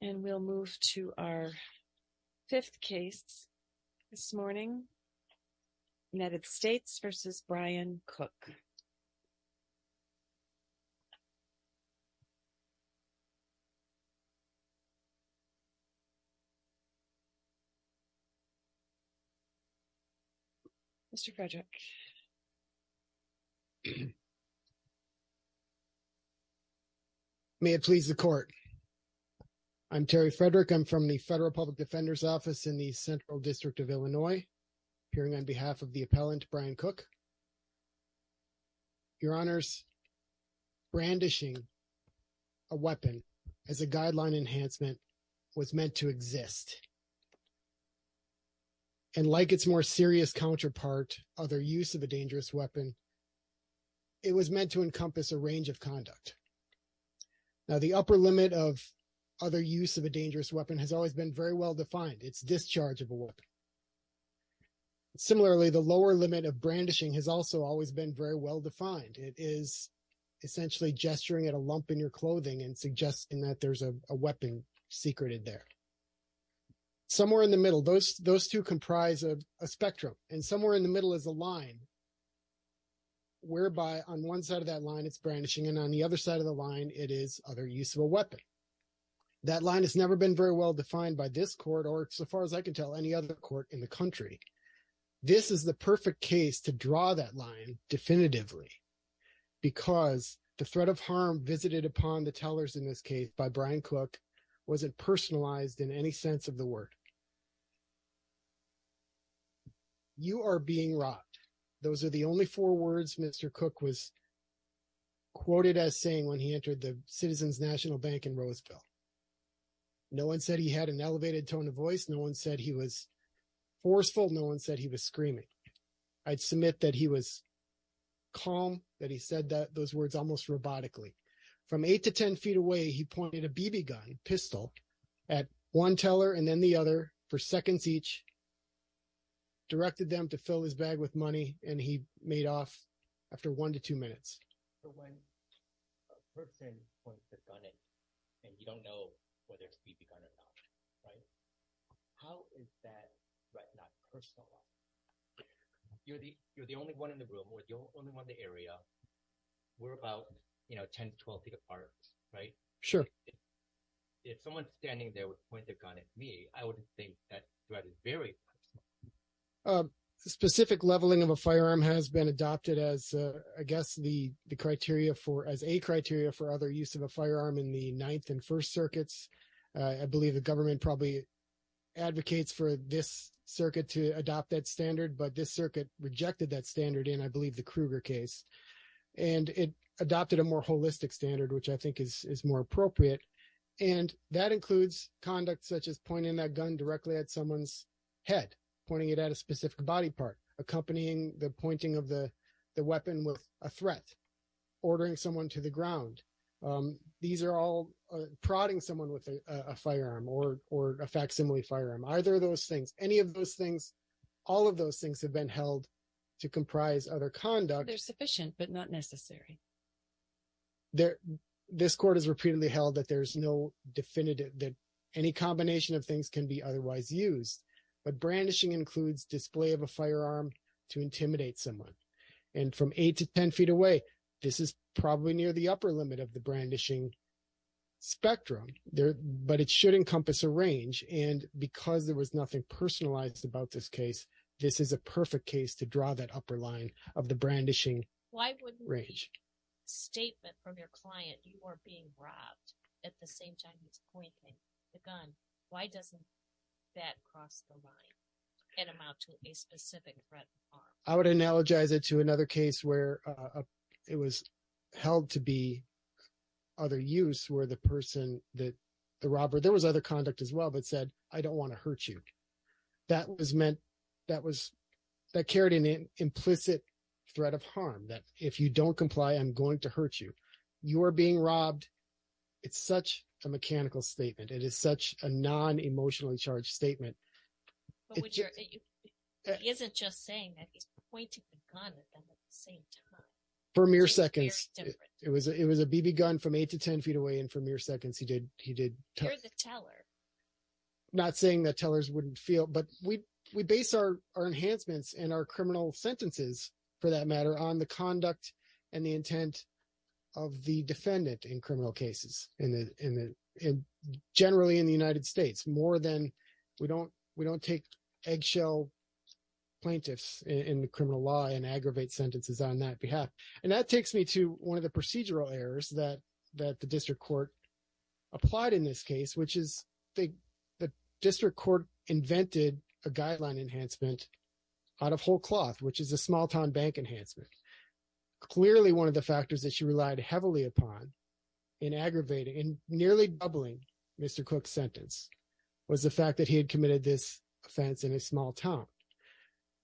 And we'll move to our fifth case this morning, United States v. Brian Cook. Mr. Frederick. May it please the court. I'm Terry Frederick. I'm from the Federal Public Defender's Office in the Central District of Illinois. Appearing on behalf of the appellant, Brian Cook. Your Honors, brandishing a weapon as a guideline enhancement was meant to exist. And like its more serious counterpart, other use of a dangerous weapon, it was meant to encompass a range of conduct. Now, the upper limit of other use of a dangerous weapon has always been very well defined. It's discharge of a weapon. Similarly, the lower limit of brandishing has also always been very well defined. It is essentially gesturing at a lump in your clothing and suggesting that there's a weapon secreted there. Somewhere in the middle, those two comprise a spectrum. And somewhere in the middle is a line. Whereby on one side of that line, it's brandishing and on the other side of the line, it is other use of a weapon. That line has never been very well defined by this court or so far as I can tell any other court in the country. This is the perfect case to draw that line definitively. Because the threat of harm visited upon the tellers in this case by Brian Cook wasn't personalized in any sense of the word. You are being robbed. Those are the only four words Mr. Cook was quoted as saying when he entered the Citizens National Bank in Roseville. No one said he had an elevated tone of voice. No one said he was forceful. No one said he was screaming. I'd submit that he was calm, that he said those words almost robotically. From eight to ten feet away, he pointed a BB gun, pistol, at one teller and then the other for seconds each, directed them to fill his bag with money, and he made off after one to two minutes. So when a person points a gun at you and you don't know whether it's a BB gun or not, how is that threat not personalized? You're the only one in the room or the only one in the area. We're about 10 to 12 feet apart, right? Sure. If someone's standing there with a pointed gun at me, I would think that threat is very personalized. Specific leveling of a firearm has been adopted as a criteria for other use of a firearm in the Ninth and First Circuits. I believe the government probably advocates for this circuit to adopt that standard, but this circuit rejected that standard in, I believe, the Kruger case. And it adopted a more holistic standard, which I think is more appropriate. And that includes conduct such as pointing that gun directly at someone's head, pointing it at a specific body part, accompanying the pointing of the weapon with a threat, ordering someone to the ground. These are all prodding someone with a firearm or a facsimile firearm. Either of those things, any of those things, all of those things have been held to comprise other conduct. They're sufficient, but not necessary. This court has repeatedly held that there's no definitive, that any combination of things can be otherwise used. But brandishing includes display of a firearm to intimidate someone. And from 8 to 10 feet away, this is probably near the upper limit of the brandishing spectrum, but it should encompass a range. And because there was nothing personalized about this case, this is a perfect case to draw that upper line of the brandishing range. Why wouldn't the statement from your client, you are being robbed, at the same time he's pointing the gun, why doesn't that cross the line and amount to a specific threat of harm? I would analogize it to another case where it was held to be other use, where the person, the robber, there was other conduct as well, but said, I don't want to hurt you. That was meant, that carried an implicit threat of harm, that if you don't comply, I'm going to hurt you. You are being robbed. It's such a mechanical statement. It is such a non-emotionally charged statement. He isn't just saying that, he's pointing the gun at them at the same time. For mere seconds. It was a BB gun from 8 to 10 feet away and for mere seconds he did. You're the teller. Not saying that tellers wouldn't feel, but we base our enhancements and our criminal sentences, for that matter, on the conduct and the intent of the defendant in criminal cases. Generally in the United States, more than, we don't take eggshell plaintiffs in criminal law and aggravate sentences on that behalf. And that takes me to one of the procedural errors that the district court applied in this case, which is the district court invented a guideline enhancement out of whole cloth, which is a small town bank enhancement. Clearly one of the factors that she relied heavily upon in aggravating, in nearly doubling Mr. Cook's sentence, was the fact that he had committed this offense in a small town.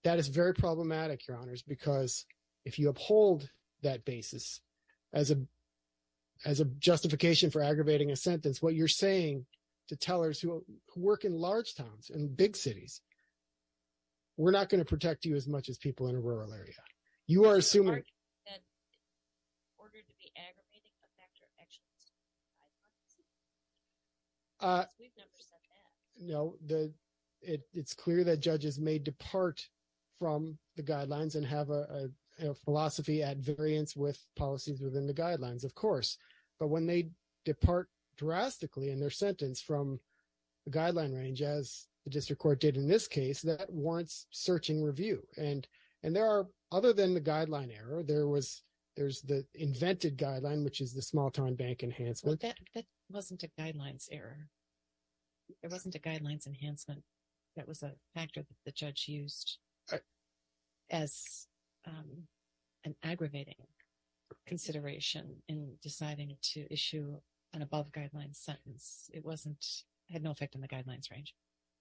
That is very problematic, Your Honors, because if you uphold that basis as a justification for aggravating a sentence, what you're saying to tellers who work in large towns, in big cities, we're not going to protect you as much as people in a rural area. You are assuming... No, it's clear that judges may depart from the guidelines and have a philosophy at variance with policies within the guidelines, of course. But when they depart drastically in their sentence from the guideline range, as the district court did in this case, that warrants searching review. And there are, other than the guideline error, there's the invented guideline, which is the small town bank enhancement. That wasn't a guidelines error. It wasn't a guidelines enhancement. That was a factor that the judge used as an aggravating consideration in deciding to issue an above guidelines sentence. It had no effect on the guidelines range.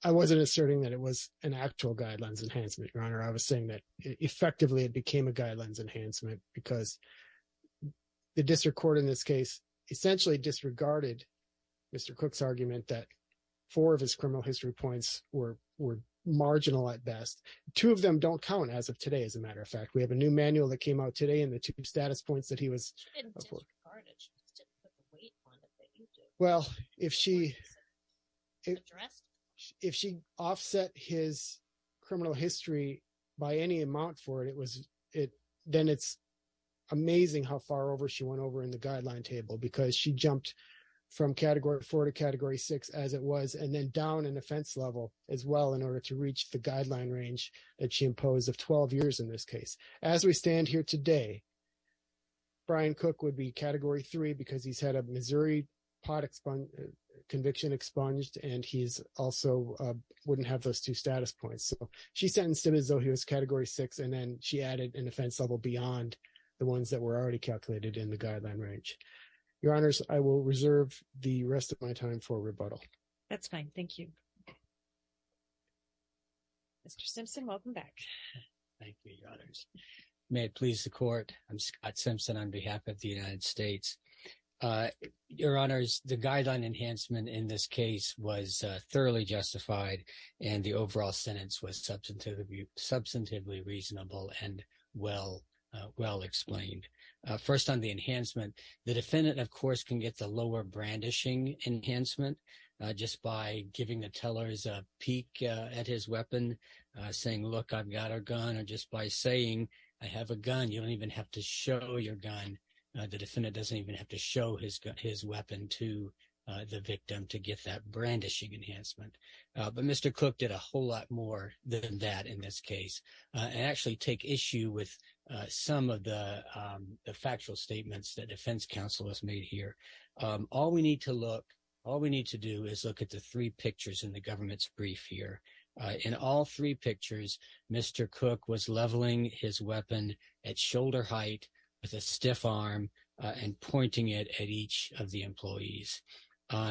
I wasn't asserting that it was an actual guidelines enhancement, Your Honor. I was saying that, effectively, it became a guidelines enhancement because the district court in this case essentially disregarded Mr. Cook's argument that four of his criminal history points were marginal at best. Two of them don't count as of today, as a matter of fact. We have a new manual that came out today in the two status points that he was... She didn't disregard it. She just didn't put the weight on it that you did. Well, if she offset his criminal history by any amount for it, then it's amazing how far over she went over in the guideline table because she jumped from category four to category six as it was, and then down in offense level as well in order to reach the guideline range that she imposed of 12 years in this case. As we stand here today, Brian Cook would be category three because he's had a Missouri pot conviction expunged, and he also wouldn't have those two status points. So she sentenced him as though he was category six, and then she added an offense level beyond the ones that were already calculated in the guideline range. Your Honors, I will reserve the rest of my time for rebuttal. That's fine. Thank you. Mr. Simpson, welcome back. Thank you, Your Honors. May it please the court. I'm Scott Simpson on behalf of the United States. Your Honors, the guideline enhancement in this case was thoroughly justified, and the overall sentence was substantively reasonable and well explained. First on the enhancement, the defendant, of course, can get the lower brandishing enhancement just by giving the tellers a peek at his weapon, saying, look, I've got a gun, or just by saying, I have a gun, you don't even have to show your gun. The defendant doesn't even have to show his weapon to the victim to get that brandishing enhancement. But Mr. Cook did a whole lot more than that in this case, and actually take issue with some of the factual statements that defense counsel has made here. All we need to look, all we need to do is look at the three pictures in the government's brief here. In all three pictures, Mr. Cook was leveling his weapon at shoulder height with a stiff arm and pointing it at each of the employees.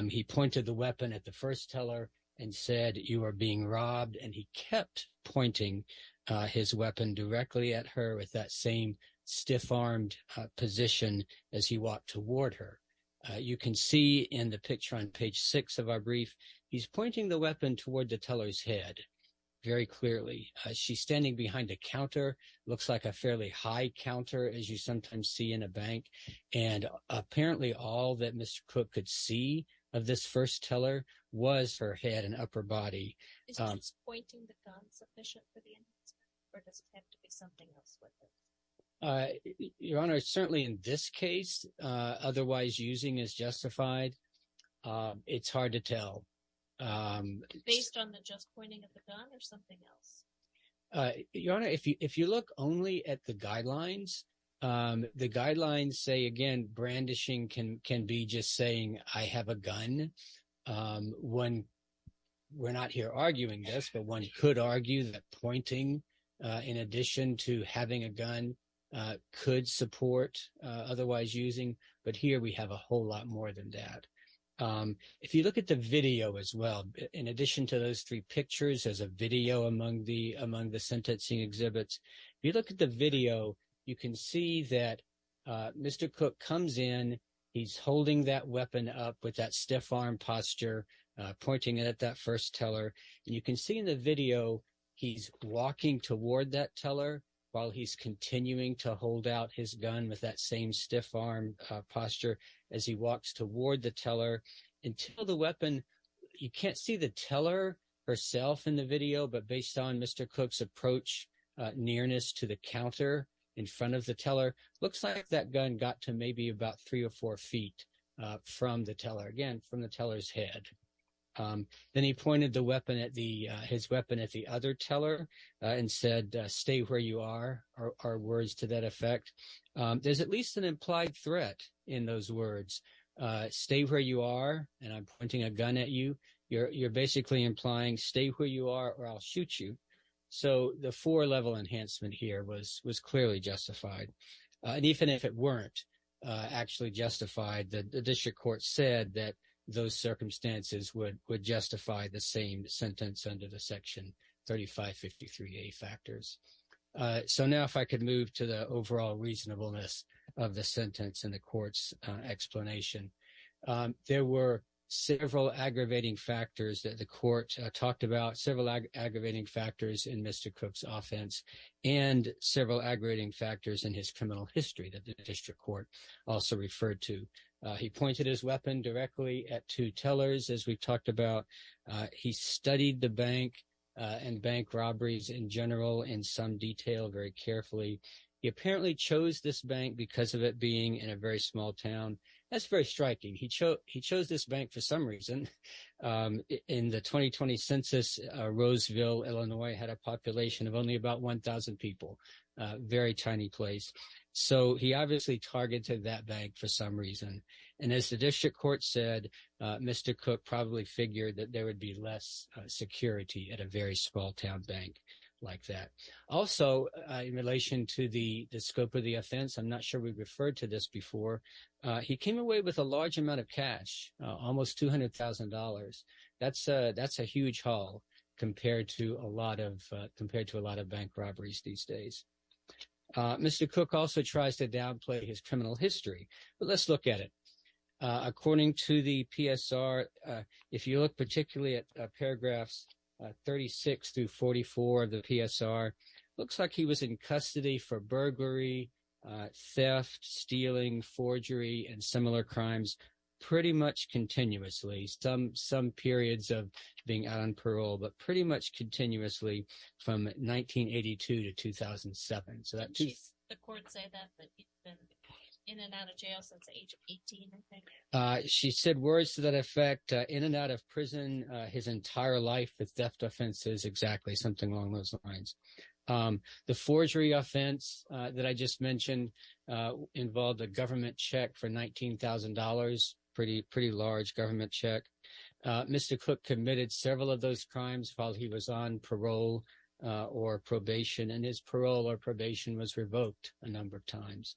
He pointed the weapon at the first teller and said, you are being robbed, and he kept pointing his weapon directly at her with that same stiff-armed position as he walked toward her. You can see in the picture on page six of our brief, he's pointing the weapon toward the teller's head very clearly. She's standing behind a counter, looks like a fairly high counter, as you sometimes see in a bank. And apparently all that Mr. Cook could see of this first teller was her head and upper body. Is just pointing the gun sufficient for the enhancement or does it have to be something else with it? Your Honor, certainly in this case, otherwise using is justified. It's hard to tell. Based on the just pointing at the gun or something else? Your Honor, if you look only at the guidelines, the guidelines say, again, brandishing can be just saying I have a gun. We're not here arguing this, but one could argue that pointing in addition to having a gun could support otherwise using. But here we have a whole lot more than that. If you look at the video as well, in addition to those three pictures, there's a video among the sentencing exhibits. If you look at the video, you can see that Mr. Cook comes in. He's holding that weapon up with that stiff-armed posture, pointing it at that first teller. You can see in the video he's walking toward that teller while he's continuing to hold out his gun with that same stiff arm posture as he walks toward the teller until the weapon. You can't see the teller herself in the video, but based on Mr. Cook's approach nearness to the counter in front of the teller, looks like that gun got to maybe about three or four feet from the teller again from the teller's head. Then he pointed his weapon at the other teller and said, stay where you are, are words to that effect. There's at least an implied threat in those words. Stay where you are, and I'm pointing a gun at you. You're basically implying stay where you are or I'll shoot you. So the four-level enhancement here was clearly justified. Even if it weren't actually justified, the district court said that those circumstances would justify the same sentence under the section 3553A factors. So now if I could move to the overall reasonableness of the sentence and the court's explanation. There were several aggravating factors that the court talked about, several aggravating factors in Mr. Cook's offense and several aggravating factors in his criminal history that the district court also referred to. He pointed his weapon directly at two tellers, as we talked about. He studied the bank and bank robberies in general in some detail very carefully. He apparently chose this bank because of it being in a very small town. That's very striking. He chose this bank for some reason. In the 2020 census, Roseville, Illinois had a population of only about 1,000 people, a very tiny place. So he obviously targeted that bank for some reason. And as the district court said, Mr. Cook probably figured that there would be less security at a very small town bank like that. Also, in relation to the scope of the offense, I'm not sure we referred to this before. He came away with a large amount of cash, almost $200,000. That's a huge haul compared to a lot of bank robberies these days. Mr. Cook also tries to downplay his criminal history. But let's look at it. According to the PSR, if you look particularly at paragraphs 36 through 44 of the PSR, looks like he was in custody for burglary, theft, stealing, forgery, and similar crimes pretty much continuously. Some periods of being out on parole, but pretty much continuously from 1982 to 2007. The courts say that he's been in and out of jail since the age of 18, I think. She said words to that effect, in and out of prison his entire life with theft offenses, exactly, something along those lines. The forgery offense that I just mentioned involved a government check for $19,000, pretty large government check. Mr. Cook committed several of those crimes while he was on parole or probation, and his parole or probation was revoked a number of times.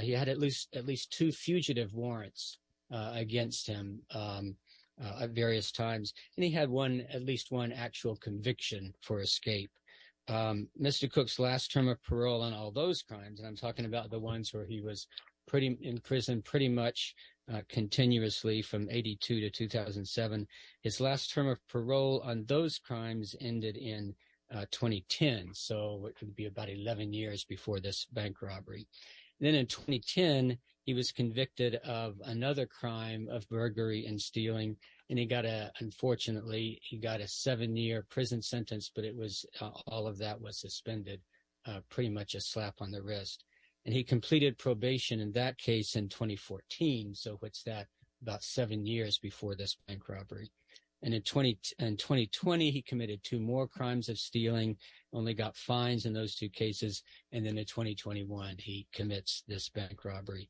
He had at least two fugitive warrants against him at various times, and he had at least one actual conviction for escape. Mr. Cook's last term of parole on all those crimes, and I'm talking about the ones where he was in prison pretty much continuously from 82 to 2007. His last term of parole on those crimes ended in 2010, so it could be about 11 years before this bank robbery. Then in 2010, he was convicted of another crime of burglary and stealing, and he got a – unfortunately, he got a seven-year prison sentence, but it was – all of that was suspended, pretty much a slap on the wrist. And he completed probation in that case in 2014, so it's that – about seven years before this bank robbery. And in 2020, he committed two more crimes of stealing, only got fines in those two cases, and then in 2021, he commits this bank robbery.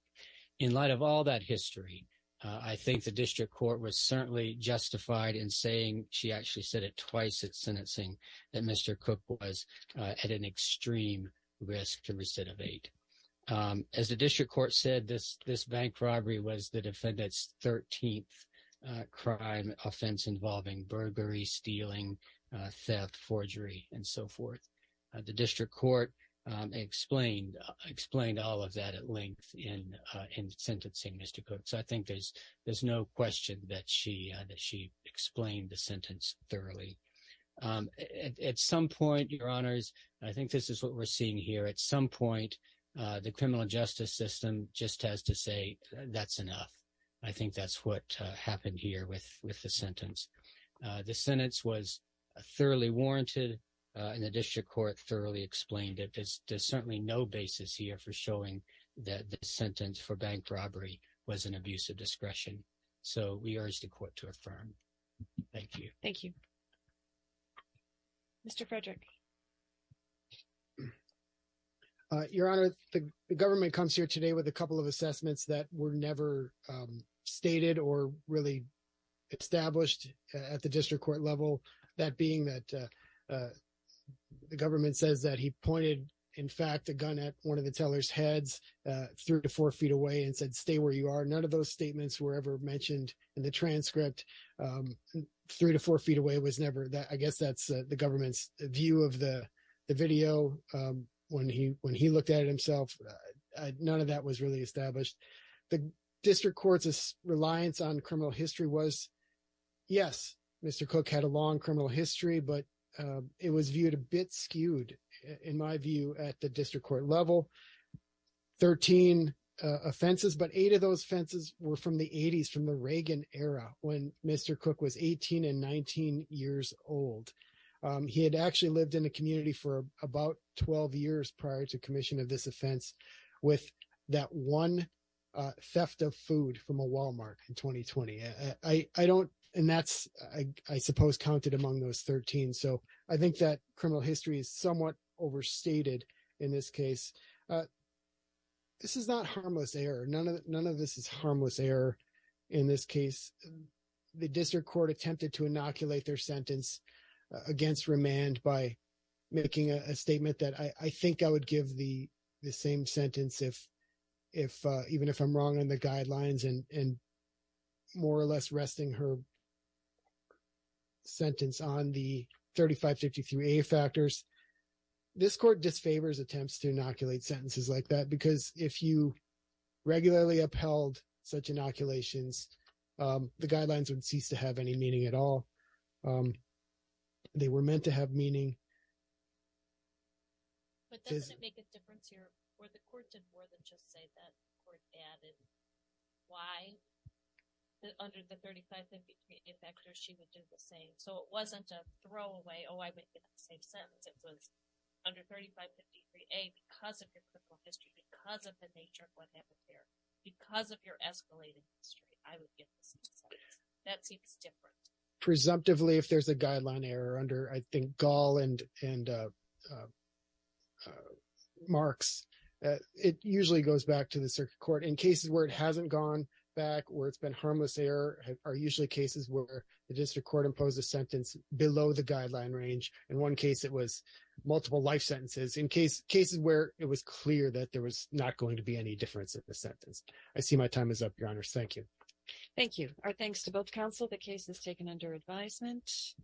In light of all that history, I think the district court was certainly justified in saying – she actually said it twice at sentencing – that Mr. Cook was at an extreme risk to recidivate. As the district court said, this bank robbery was the defendant's 13th crime offense involving burglary, stealing, theft, forgery, and so forth. The district court explained all of that at length in sentencing Mr. Cook, so I think there's no question that she explained the sentence thoroughly. At some point, Your Honors, I think this is what we're seeing here. At some point, the criminal justice system just has to say, that's enough. I think that's what happened here with the sentence. The sentence was thoroughly warranted, and the district court thoroughly explained it. There's certainly no basis here for showing that the sentence for bank robbery was an abuse of discretion, so we urge the court to affirm. Thank you. Thank you. Mr. Frederick. Your Honor, the government comes here today with a couple of assessments that were never stated or really established at the district court level. That being that the government says that he pointed, in fact, a gun at one of the teller's heads three to four feet away and said, stay where you are. None of those statements were ever mentioned in the transcript. Three to four feet away was never – I guess that's the government's view of the video. When he looked at it himself, none of that was really established. The district court's reliance on criminal history was – yes, Mr. Cook had a long criminal history, but it was viewed a bit skewed, in my view, at the district court level. Thirteen offenses, but eight of those offenses were from the 80s, from the Reagan era, when Mr. Cook was 18 and 19 years old. He had actually lived in the community for about 12 years prior to commission of this offense with that one theft of food from a Walmart in 2020. I don't – and that's, I suppose, counted among those 13. So I think that criminal history is somewhat overstated in this case. This is not harmless error. None of this is harmless error in this case. The district court attempted to inoculate their sentence against remand by making a statement that I think I would give the same sentence if – even if I'm wrong in the guidelines and more or less resting her sentence on the 3553A factors. This court disfavors attempts to inoculate sentences like that because if you regularly upheld such inoculations, the guidelines would cease to have any meaning at all. They were meant to have meaning. But does it make a difference here where the court did more than just say that? The court added why under the 3553A factors she would do the same. So it wasn't a throwaway, oh, I would get the same sentence. It was under 3553A because of your criminal history, because of the nature of what happened there, because of your escalated history, I would give the same sentence. That seems different. Presumptively, if there's a guideline error under, I think, Gall and Marks, it usually goes back to the circuit court. In cases where it hasn't gone back or it's been harmless error are usually cases where the district court imposed a sentence below the guideline range. In one case, it was multiple life sentences. In cases where it was clear that there was not going to be any difference in the sentence. I see my time is up, Your Honors. Thank you. Thank you. Our thanks to both counsel. The case is taken under advisement.